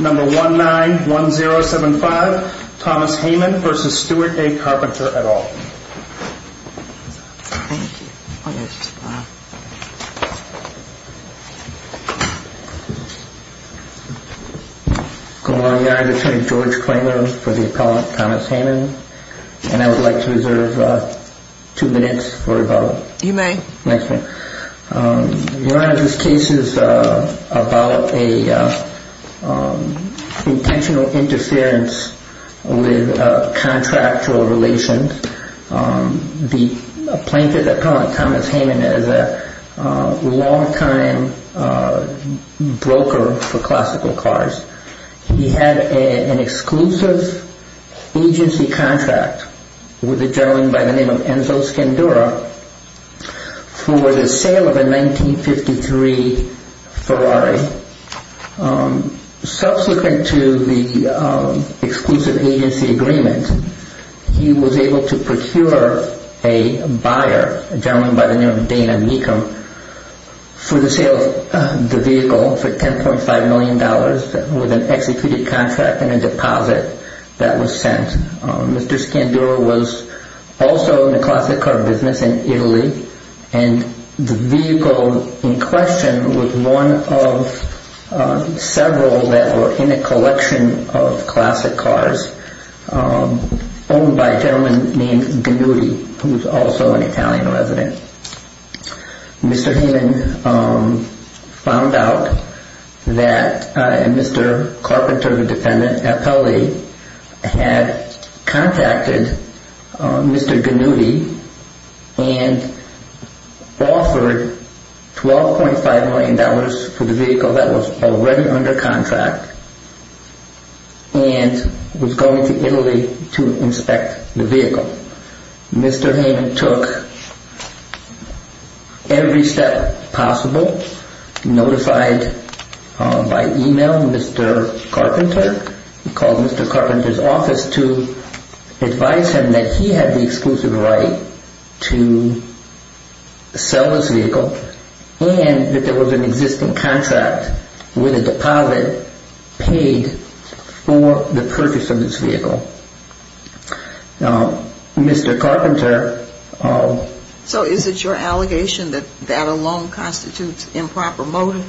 at all. Thank you. Good morning, I'm Attorney George Klingler for the appellant Thomas Hamann and I would like to reserve two minutes for about You may. Your Honor, this case is about an intentional interference with contractual relations. The plaintiff, Thomas Hamann, is a long time broker for classical cars. He had an exclusive agency contract with a gentleman by the name of Enzo Scandura for the sale of a 1953 Ferrari. Subsequent to the exclusive agency agreement, he was able to procure a buyer, a gentleman by the name of Dana Mecham, for the sale of the vehicle for $10.5 million with an executed contract and a deposit that was sent. Mr. Scandura was also in the classic car business in Italy and the vehicle in question was one of several that were in a collection of classic cars owned by a gentleman named Ganuti, who was also an Italian resident. Mr. Hamann found out that Mr. Carpenter, the defendant, appellee, had contacted Mr. Ganuti and offered $12.5 million for the vehicle that was already under contract and was going to Italy to inspect the vehicle. Mr. Hamann took every step possible, notified by email Mr. Carpenter. He called Mr. Carpenter's office to advise him that he had the exclusive right to sell this vehicle and that there was an existing contract with a deposit paid for the purchase of this vehicle. Now, Mr. Carpenter... So is it your allegation that that alone constitutes improper motive?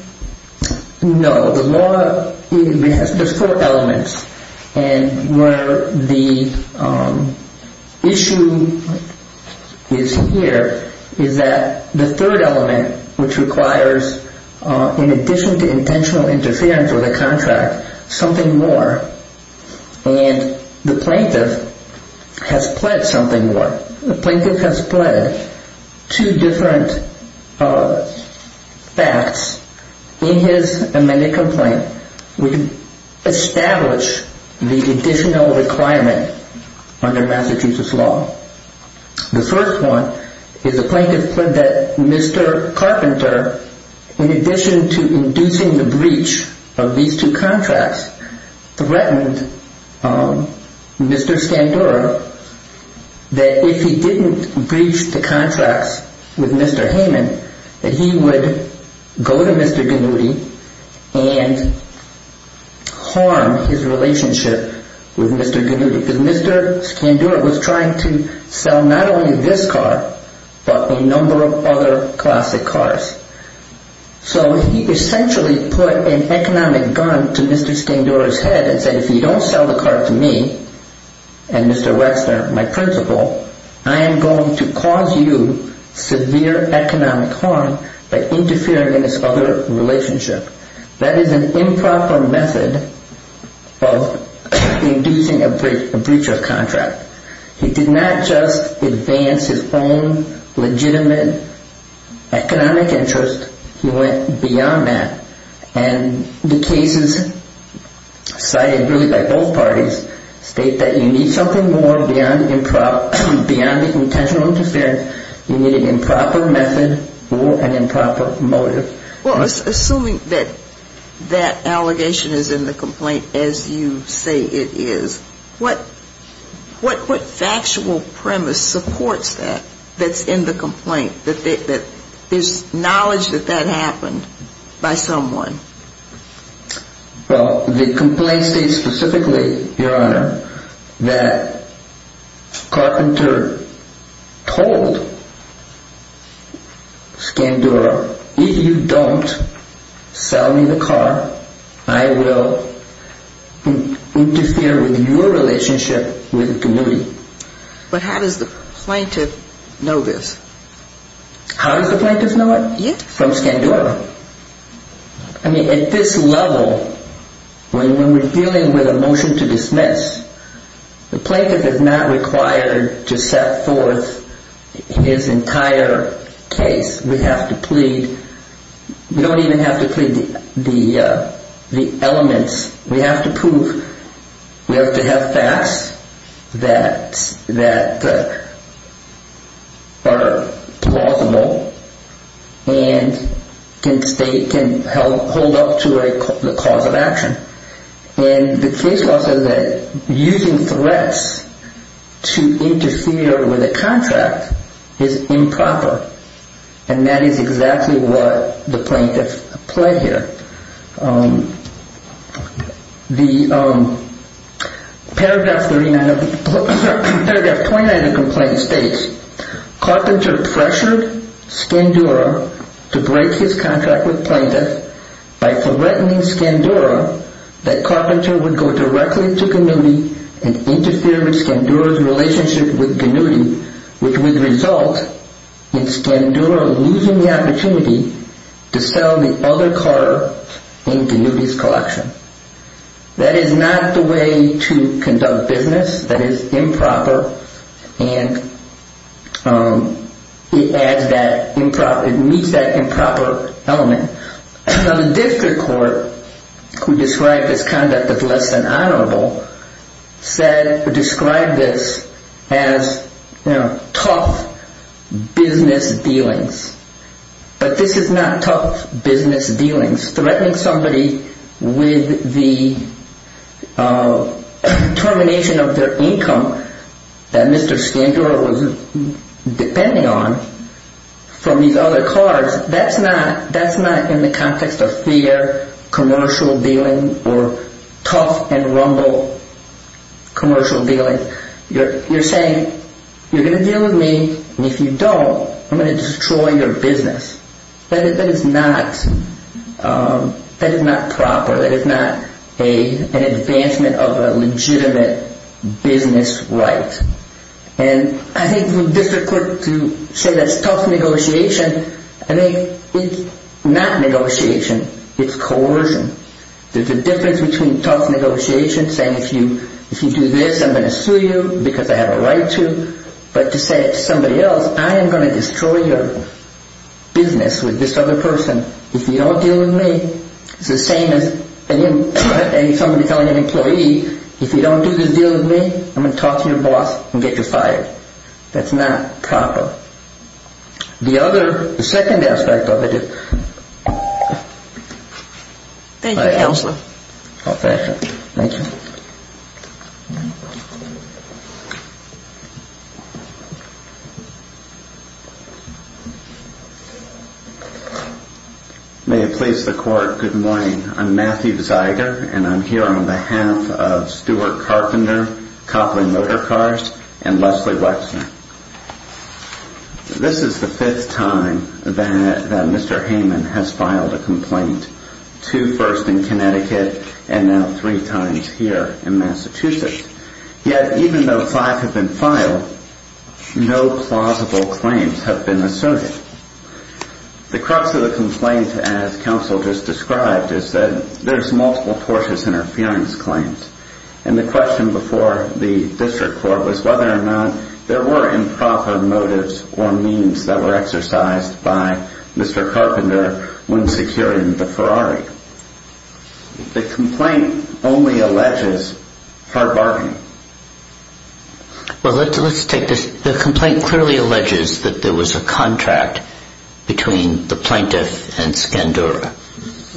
No. The law has four elements. And where the issue is here is that the third element, which requires, in addition to intentional interference with a contract, something more. And the plaintiff has pled something more. The plaintiff has pled two different facts in his amended complaint. We establish the additional requirement under Massachusetts law. The first one is the plaintiff pled that Mr. Carpenter, in addition to inducing the breach of these two contracts, threatened Mr. Scandura that if he didn't breach the contracts with Mr. Hamann, that he would go to Mr. Ganuti and harm his relationship with Mr. Ganuti. Because Mr. Scandura was trying to sell not only this car, but a number of other classic cars. So he essentially put an economic gun to Mr. Scandura's head and said, if you don't sell the car to me and Mr. Wexner, my principal, I am going to cause you severe economic harm by interfering in this other relationship. That is an improper method of inducing a breach of contract. He did not just advance his own legitimate economic interest. He went beyond that. And the cases cited really by both parties state that you need something more beyond the intentional interference. You need an improper method or an improper motive. Well, assuming that that allegation is in the complaint as you say it is, what factual premise supports that that's in the complaint, that there's knowledge that that happened by someone? Well, the complaint states specifically, Your Honor, that Carpenter told Scandura, if you don't sell me the car, I will interfere with your relationship with Ganuti. But how does the plaintiff know this? How does the plaintiff know it? From Scandura. I mean, at this level, when we're dealing with a motion to dismiss, the plaintiff is not required to set forth his entire case. We have to plead. We don't even have to plead the elements. We have to prove. We have to have facts that are plausible and can hold up to the cause of action. And the case law says that using threats to interfere with a contract is improper. And that is exactly what the plaintiff pled here. The paragraph 29 of the complaint states, Carpenter pressured Scandura to break his contract with plaintiff by threatening Scandura that Carpenter would go directly to Ganuti and interfere with Scandura's relationship with Ganuti, which would result in Scandura losing the opportunity to sell the other car in Ganuti's collection. That is not the way to conduct business. That is improper. And it meets that improper element. The district court, who described this conduct as less than honorable, described this as tough business dealings. But this is not tough business dealings. Threatening somebody with the termination of their income that Mr. Scandura was depending on from these other cars, that's not in the context of fair commercial dealings or tough and rumble commercial dealings. You're saying you're going to deal with me, and if you don't, I'm going to destroy your business. That is not proper. That is not an advancement of a legitimate business right. And I think the district court, to say that's tough negotiation, I think it's not negotiation. It's coercion. There's a difference between tough negotiation, saying if you do this, I'm going to sue you because I have a right to, but to say to somebody else, I am going to destroy your business with this other person. If you don't deal with me, it's the same as somebody telling an employee, if you don't do this deal with me, I'm going to talk to your boss and get you fired. That's not proper. The other, the second aspect of it is. Thank you, Counselor. Thank you. May it please the Court, good morning. I'm Matthew Zeiger, and I'm here on behalf of Stewart Carpenter, Copley Motorcars, and Leslie Wexner. This is the fifth time that Mr. Hayman has filed a complaint. Two first in Connecticut, and now three times here in Massachusetts. Yet, even though five have been filed, no plausible claims have been asserted. The crux of the complaint, as Counsel just described, is that there's multiple tortious interference claims. And the question before the District Court was whether or not there were improper motives or means that were exercised by Mr. Carpenter when securing the Ferrari. The complaint only alleges hard bargaining. Well, let's take this. The complaint clearly alleges that there was a contract between the plaintiff and Scandura.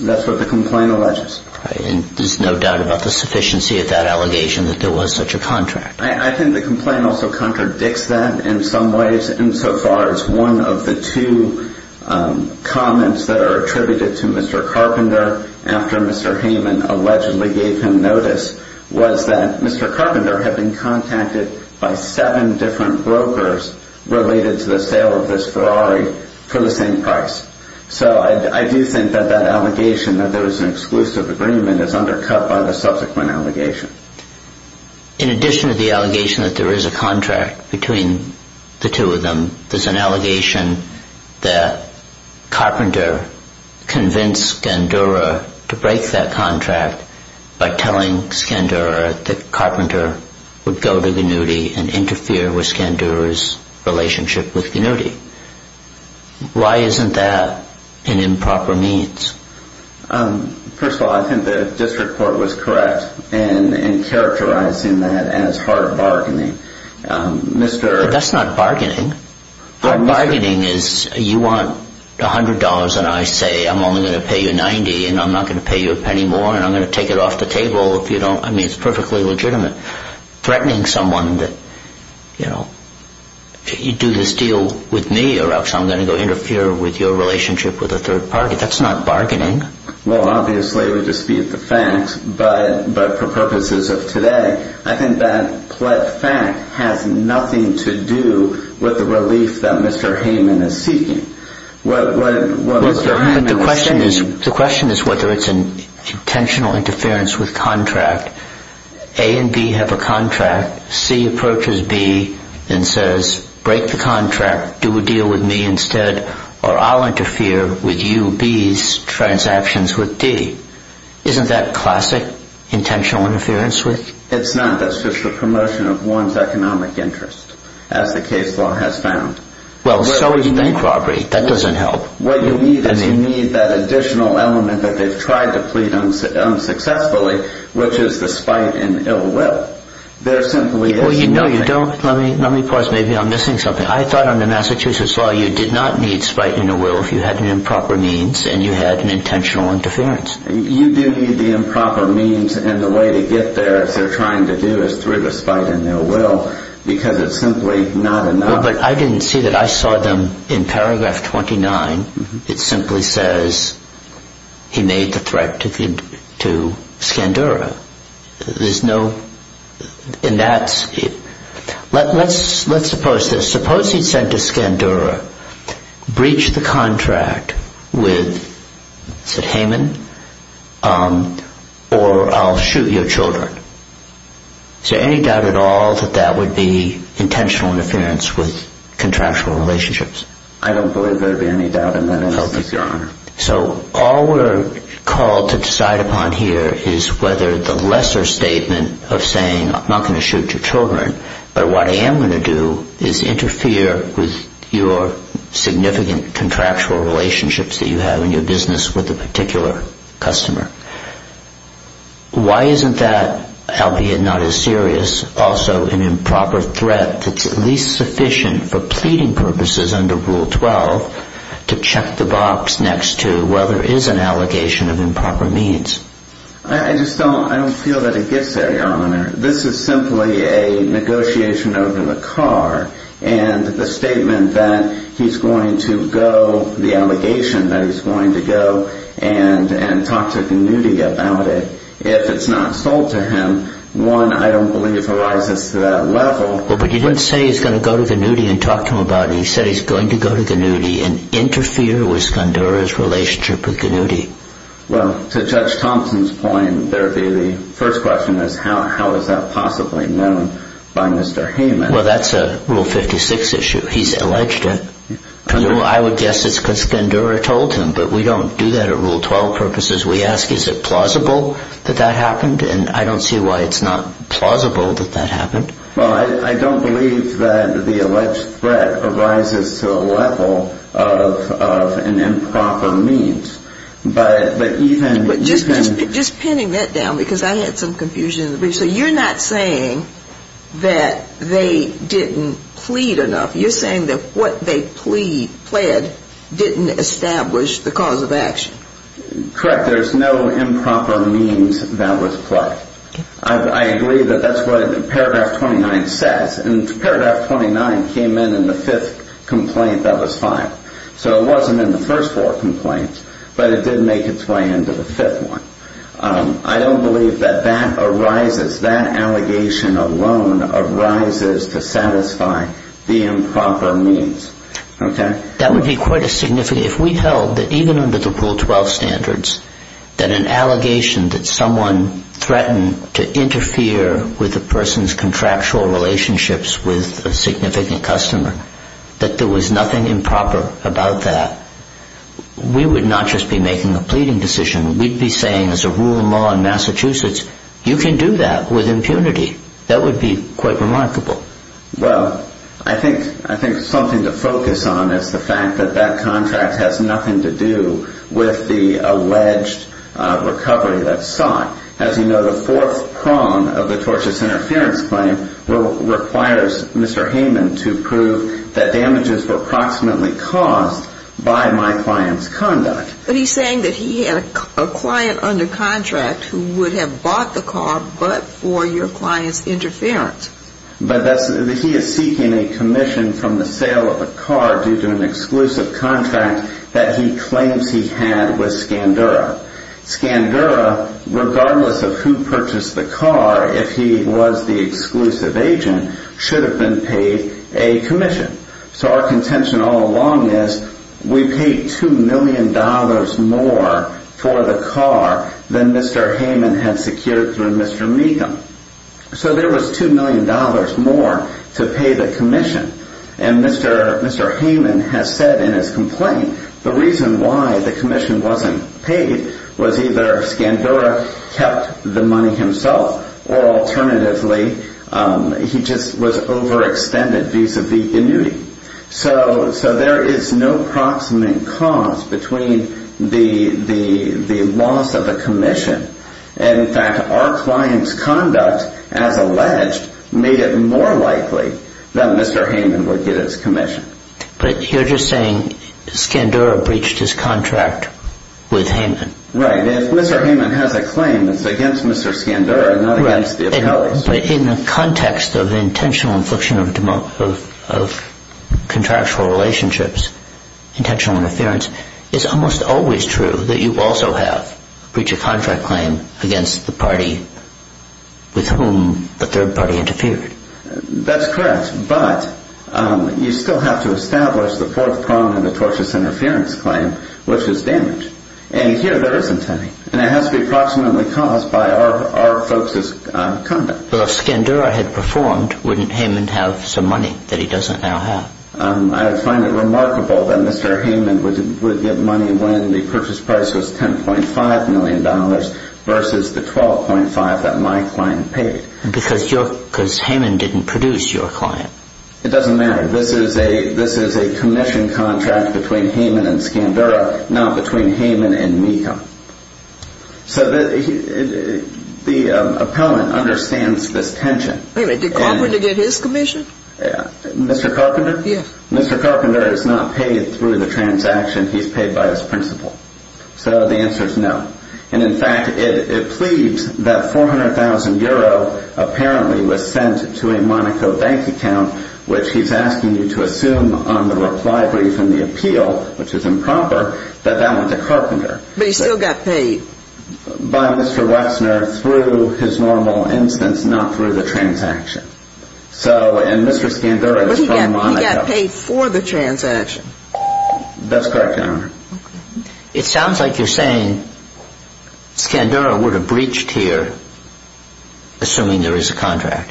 That's what the complaint alleges. And there's no doubt about the sufficiency of that allegation that there was such a contract. I think the complaint also contradicts that in some ways. Insofar as one of the two comments that are attributed to Mr. Carpenter after Mr. Hayman allegedly gave him notice was that Mr. Carpenter had been contacted by seven different brokers related to the sale of this Ferrari for the same price. So I do think that that allegation that there was an exclusive agreement is undercut by the subsequent allegation. In addition to the allegation that there is a contract between the two of them, there's an allegation that Carpenter convinced Scandura to break that contract by telling Scandura that Carpenter would go to Gnudi and interfere with Scandura's relationship with Gnudi. Why isn't that an improper means? First of all, I think the District Court was correct in characterizing that as hard bargaining. That's not bargaining. Bargaining is you want $100 and I say I'm only going to pay you $90 and I'm not going to pay you a penny more and I'm going to take it off the table if you don't. I mean, it's perfectly legitimate. Threatening someone that, you know, you do this deal with me or else I'm going to go interfere with your relationship with a third party. That's not bargaining. Well, obviously we dispute the facts. But for purposes of today, I think that fact has nothing to do with the relief that Mr. Hayman is seeking. The question is whether it's an intentional interference with contract. A and B have a contract. C approaches B and says, break the contract. Do a deal with me instead or I'll interfere with you B's transactions with D. Isn't that classic intentional interference with? It's not. That's just the promotion of one's economic interest as the case law has found. Well, so is bank robbery. That doesn't help. What you need is you need that additional element that they've tried to plead unsuccessfully, which is the spite and ill will. There simply is nothing. No, you don't. Let me pause. Maybe I'm missing something. I thought under Massachusetts law you did not need spite and ill will if you had an improper means and you had an intentional interference. You do need the improper means and the way to get there if they're trying to do is through the spite and ill will because it's simply not enough. But I didn't see that. I saw them in paragraph 29. It simply says he made the threat to Skandura. There's no. And that's it. Let's let's suppose this. Suppose he sent to Skandura breach the contract with Hayman or I'll shoot your children. So any doubt at all that that would be intentional interference with contractual relationships? I don't believe there'd be any doubt in that. So all we're called to decide upon here is whether the lesser statement of saying I'm not going to shoot your children. But what I am going to do is interfere with your significant contractual relationships that you have in your business with a particular customer. Why isn't that, albeit not as serious, also an improper threat that's at least sufficient for pleading purposes under Rule 12 to check the box next to whether is an allegation of improper means? I just don't I don't feel that it gets there. This is simply a negotiation over the car and the statement that he's going to go. The allegation that he's going to go and and talk to Gnudi about it. If it's not sold to him, one, I don't believe arises to that level. But you didn't say he's going to go to Gnudi and talk to him about it. He said he's going to go to Gnudi and interfere with Skandura's relationship with Gnudi. Well, to Judge Thompson's point, the first question is how is that possibly known by Mr. Hayman? Well, that's a Rule 56 issue. He's alleged it. I would guess it's because Skandura told him, but we don't do that at Rule 12 purposes. We ask, is it plausible that that happened? And I don't see why it's not plausible that that happened. Well, I don't believe that the alleged threat arises to a level of an improper means. But just pinning that down, because I had some confusion. So you're not saying that they didn't plead enough. You're saying that what they plead, pled, didn't establish the cause of action. Correct. There's no improper means that was pled. I agree that that's what Paragraph 29 says. And Paragraph 29 came in in the fifth complaint that was filed. So it wasn't in the first four complaints, but it did make its way into the fifth one. I don't believe that that arises, that allegation alone arises to satisfy the improper means. That would be quite a significant, if we held that even under the Rule 12 standards, that an allegation that someone threatened to interfere with a person's contractual relationships with a significant customer, that there was nothing improper about that, we would not just be making a pleading decision. We'd be saying, as a rule of law in Massachusetts, you can do that with impunity. That would be quite remarkable. Well, I think something to focus on is the fact that that contract has nothing to do with the alleged recovery that's sought. As you know, the fourth prong of the tortious interference claim requires Mr. Heyman to prove that damages were approximately caused by my client's conduct. But he's saying that he had a client under contract who would have bought the car but for your client's interference. But he is seeking a commission from the sale of the car due to an exclusive contract that he claims he had with Scandura. Scandura, regardless of who purchased the car, if he was the exclusive agent, should have been paid a commission. So our contention all along is, we paid $2 million more for the car than Mr. Heyman had secured through Mr. Megham. So there was $2 million more to pay the commission. And Mr. Heyman has said in his complaint, the reason why the commission wasn't paid was either Scandura kept the money himself, or alternatively, he just was overextended vis-a-vis the annuity. So there is no proximate cause between the loss of the commission and that our client's conduct, as alleged, made it more likely that Mr. Heyman would get his commission. But you're just saying Scandura breached his contract with Heyman. Right. If Mr. Heyman has a claim that's against Mr. Scandura, not against the appellees. But in the context of intentional infliction of contractual relationships, intentional interference, it's almost always true that you also have breached a contract claim against the party with whom the third party interfered. That's correct. But you still have to establish the fourth prong of the tortious interference claim, which is damage. And here there isn't any. And it has to be approximately caused by our folks' conduct. Well, if Scandura had performed, wouldn't Heyman have some money that he doesn't now have? I find it remarkable that Mr. Heyman would get money when the purchase price was $10.5 million versus the $12.5 that my client paid. Because Heyman didn't produce your client. It doesn't matter. This is a commission contract between Heyman and Scandura, not between Heyman and Meeham. So the appellant understands this tension. Wait a minute. Did Carpenter get his commission? Mr. Carpenter? Yes. Mr. Carpenter is not paid through the transaction. He's paid by his principal. So the answer is no. And in fact, it pleads that 400,000 euro apparently was sent to a Monaco bank account, which he's asking you to assume on the reply brief in the appeal, which is improper, that that went to Carpenter. But he still got paid. By Mr. Wexner through his normal instance, not through the transaction. So, and Mr. Scandura is from Monaco. But he got paid for the transaction. That's correct, Your Honor. It sounds like you're saying Scandura would have breached here, assuming there is a contract,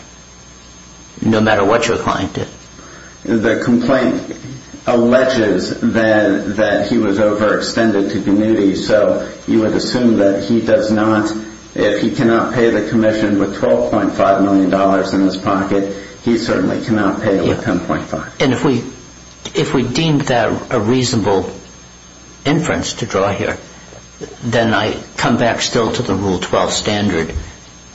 no matter what your client did. The complaint alleges that he was overextended to communities. So you would assume that he does not, if he cannot pay the commission with $12.5 million in his pocket, he certainly cannot pay it with $10.5. And if we deem that a reasonable inference to draw here, then I come back still to the Rule 12 standard.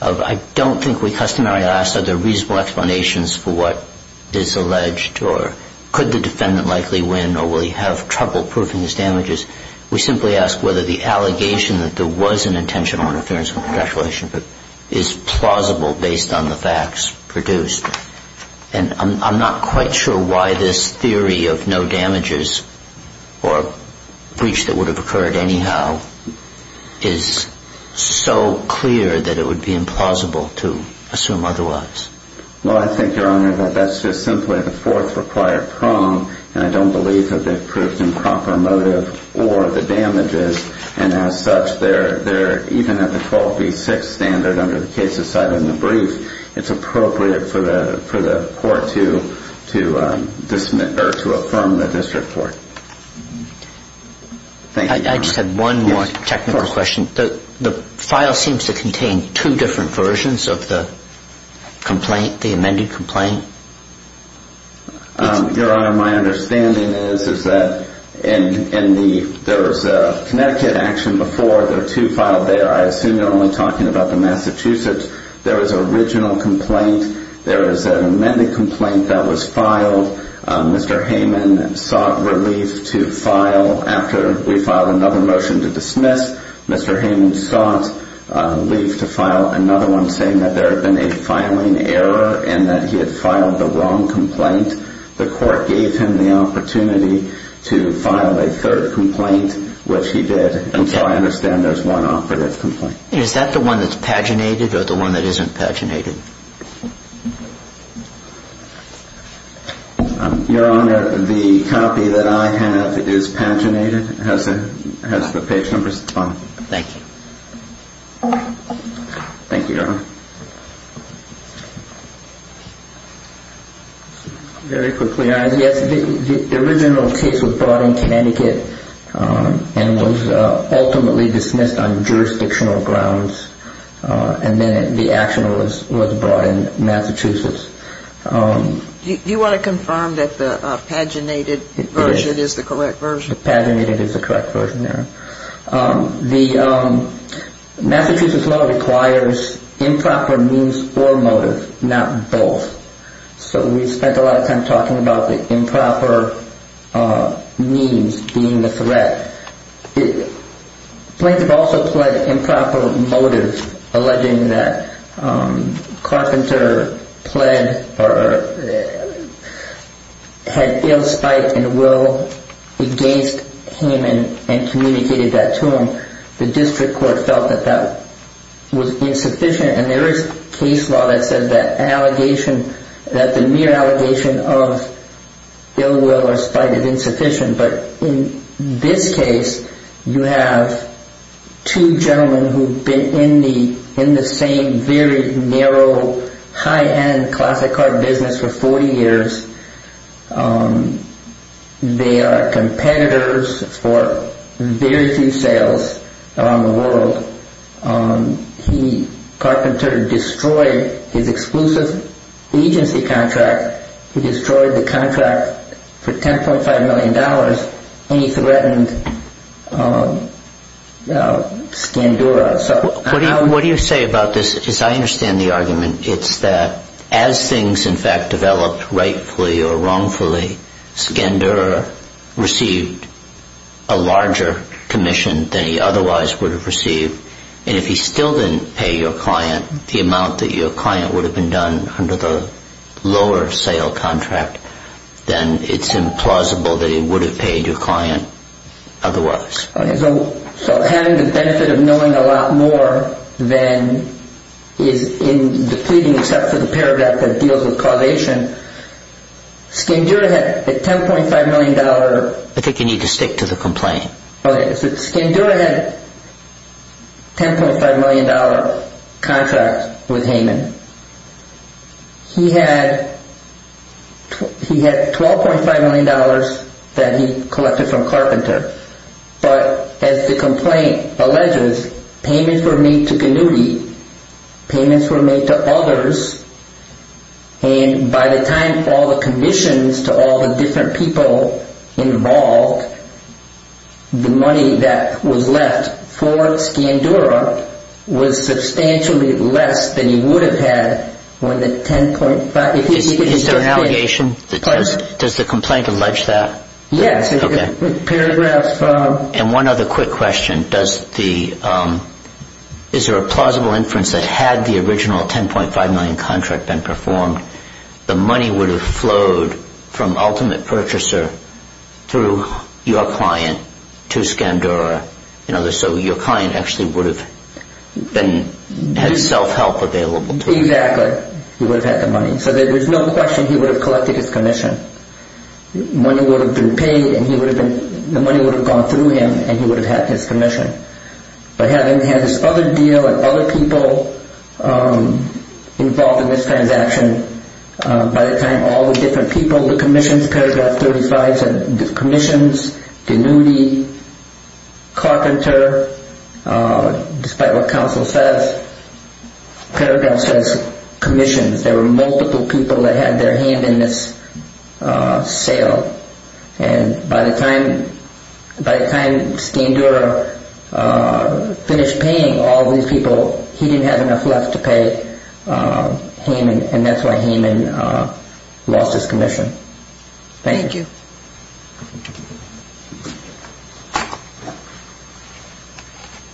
I don't think we customarily ask, are there reasonable explanations for what is alleged, or could the defendant likely win, or will he have trouble proving his damages? We simply ask whether the allegation that there was an intentional interference with a contractual issue is plausible based on the facts produced. And I'm not quite sure why this theory of no damages or breach that would have occurred anyhow is so clear that it would be implausible to assume otherwise. Well, I think, Your Honor, that that's just simply the fourth required prong. And I don't believe that they've proved improper motive or the damages. And as such, they're even at the 12B6 standard under the cases cited in the brief. It's appropriate for the court to affirm the district court. I just had one more technical question. The file seems to contain two different versions of the complaint, the amended complaint. Your Honor, my understanding is that there was a Connecticut action before. There are two filed there. I assume you're only talking about the Massachusetts. There is an original complaint. There is an amended complaint that was filed. Mr. Hayman sought relief to file after we filed another motion to dismiss. Mr. Hayman sought relief to file another one saying that there had been a filing error and that he had filed the wrong complaint. The court gave him the opportunity to file a third complaint, which he did. And so I understand there's one operative complaint. Is that the one that's paginated or the one that isn't paginated? Your Honor, the copy that I have is paginated, has the page numbers on it. Thank you. Thank you, Your Honor. Very quickly, Your Honor, yes, the original case was brought in Connecticut and was ultimately dismissed on jurisdictional grounds. And then the action was brought in Massachusetts. Do you want to confirm that the paginated version is the correct version? The paginated is the correct version, Your Honor. The Massachusetts law requires improper means or motive, not both. So we spent a lot of time talking about the improper means being the threat. Plaintiff also pled improper motive, alleging that Carpenter pled or had ill spite and will against Hayman and communicated that to him. The district court felt that that was insufficient. And there is case law that says that allegation, that the mere allegation of ill will or spite is insufficient. But in this case, you have two gentlemen who have been in the same very narrow, high-end classic car business for 40 years. They are competitors for very few sales around the world. He, Carpenter, destroyed his exclusive agency contract. He destroyed the contract for $10.5 million, and he threatened Scandura. What do you say about this? As I understand the argument, it's that as things, in fact, developed rightfully or wrongfully, Scandura received a larger commission than he otherwise would have received. And if he still didn't pay your client the amount that your client would have been done under the lower-sale contract, then it's implausible that he would have paid your client otherwise. So having the benefit of knowing a lot more than is in depleting, except for the paragraph that deals with causation, Scandura had a $10.5 million... I think you need to stick to the complaint. Okay, so Scandura had a $10.5 million contract with Hayman. He had $12.5 million that he collected from Carpenter. But as the complaint alleges, payments were made to Gnudi. Payments were made to others. And by the time all the commissions to all the different people involved, the money that was left for Scandura was substantially less than he would have had when the $10.5 million... Is there an allegation? Does the complaint allege that? Yes. And one other quick question. Is there a plausible inference that had the original $10.5 million contract been performed, the money would have flowed from Ultimate Purchaser through your client to Scandura? So your client actually would have had self-help available to him. Exactly. He would have had the money. So there's no question he would have collected his commission. Money would have been paid and he would have been... The money would have gone through him and he would have had his commission. But having had this other deal and other people involved in this transaction, by the time all the different people, the commissions, paragraph 35 said commissions, Gnudi, Carpenter, despite what counsel says, paragraph says commissions. There were multiple people that had their hand in this sale. And by the time Scandura finished paying all these people, he didn't have enough left to pay Haman, and that's why Haman lost his commission. Thank you. Thank you.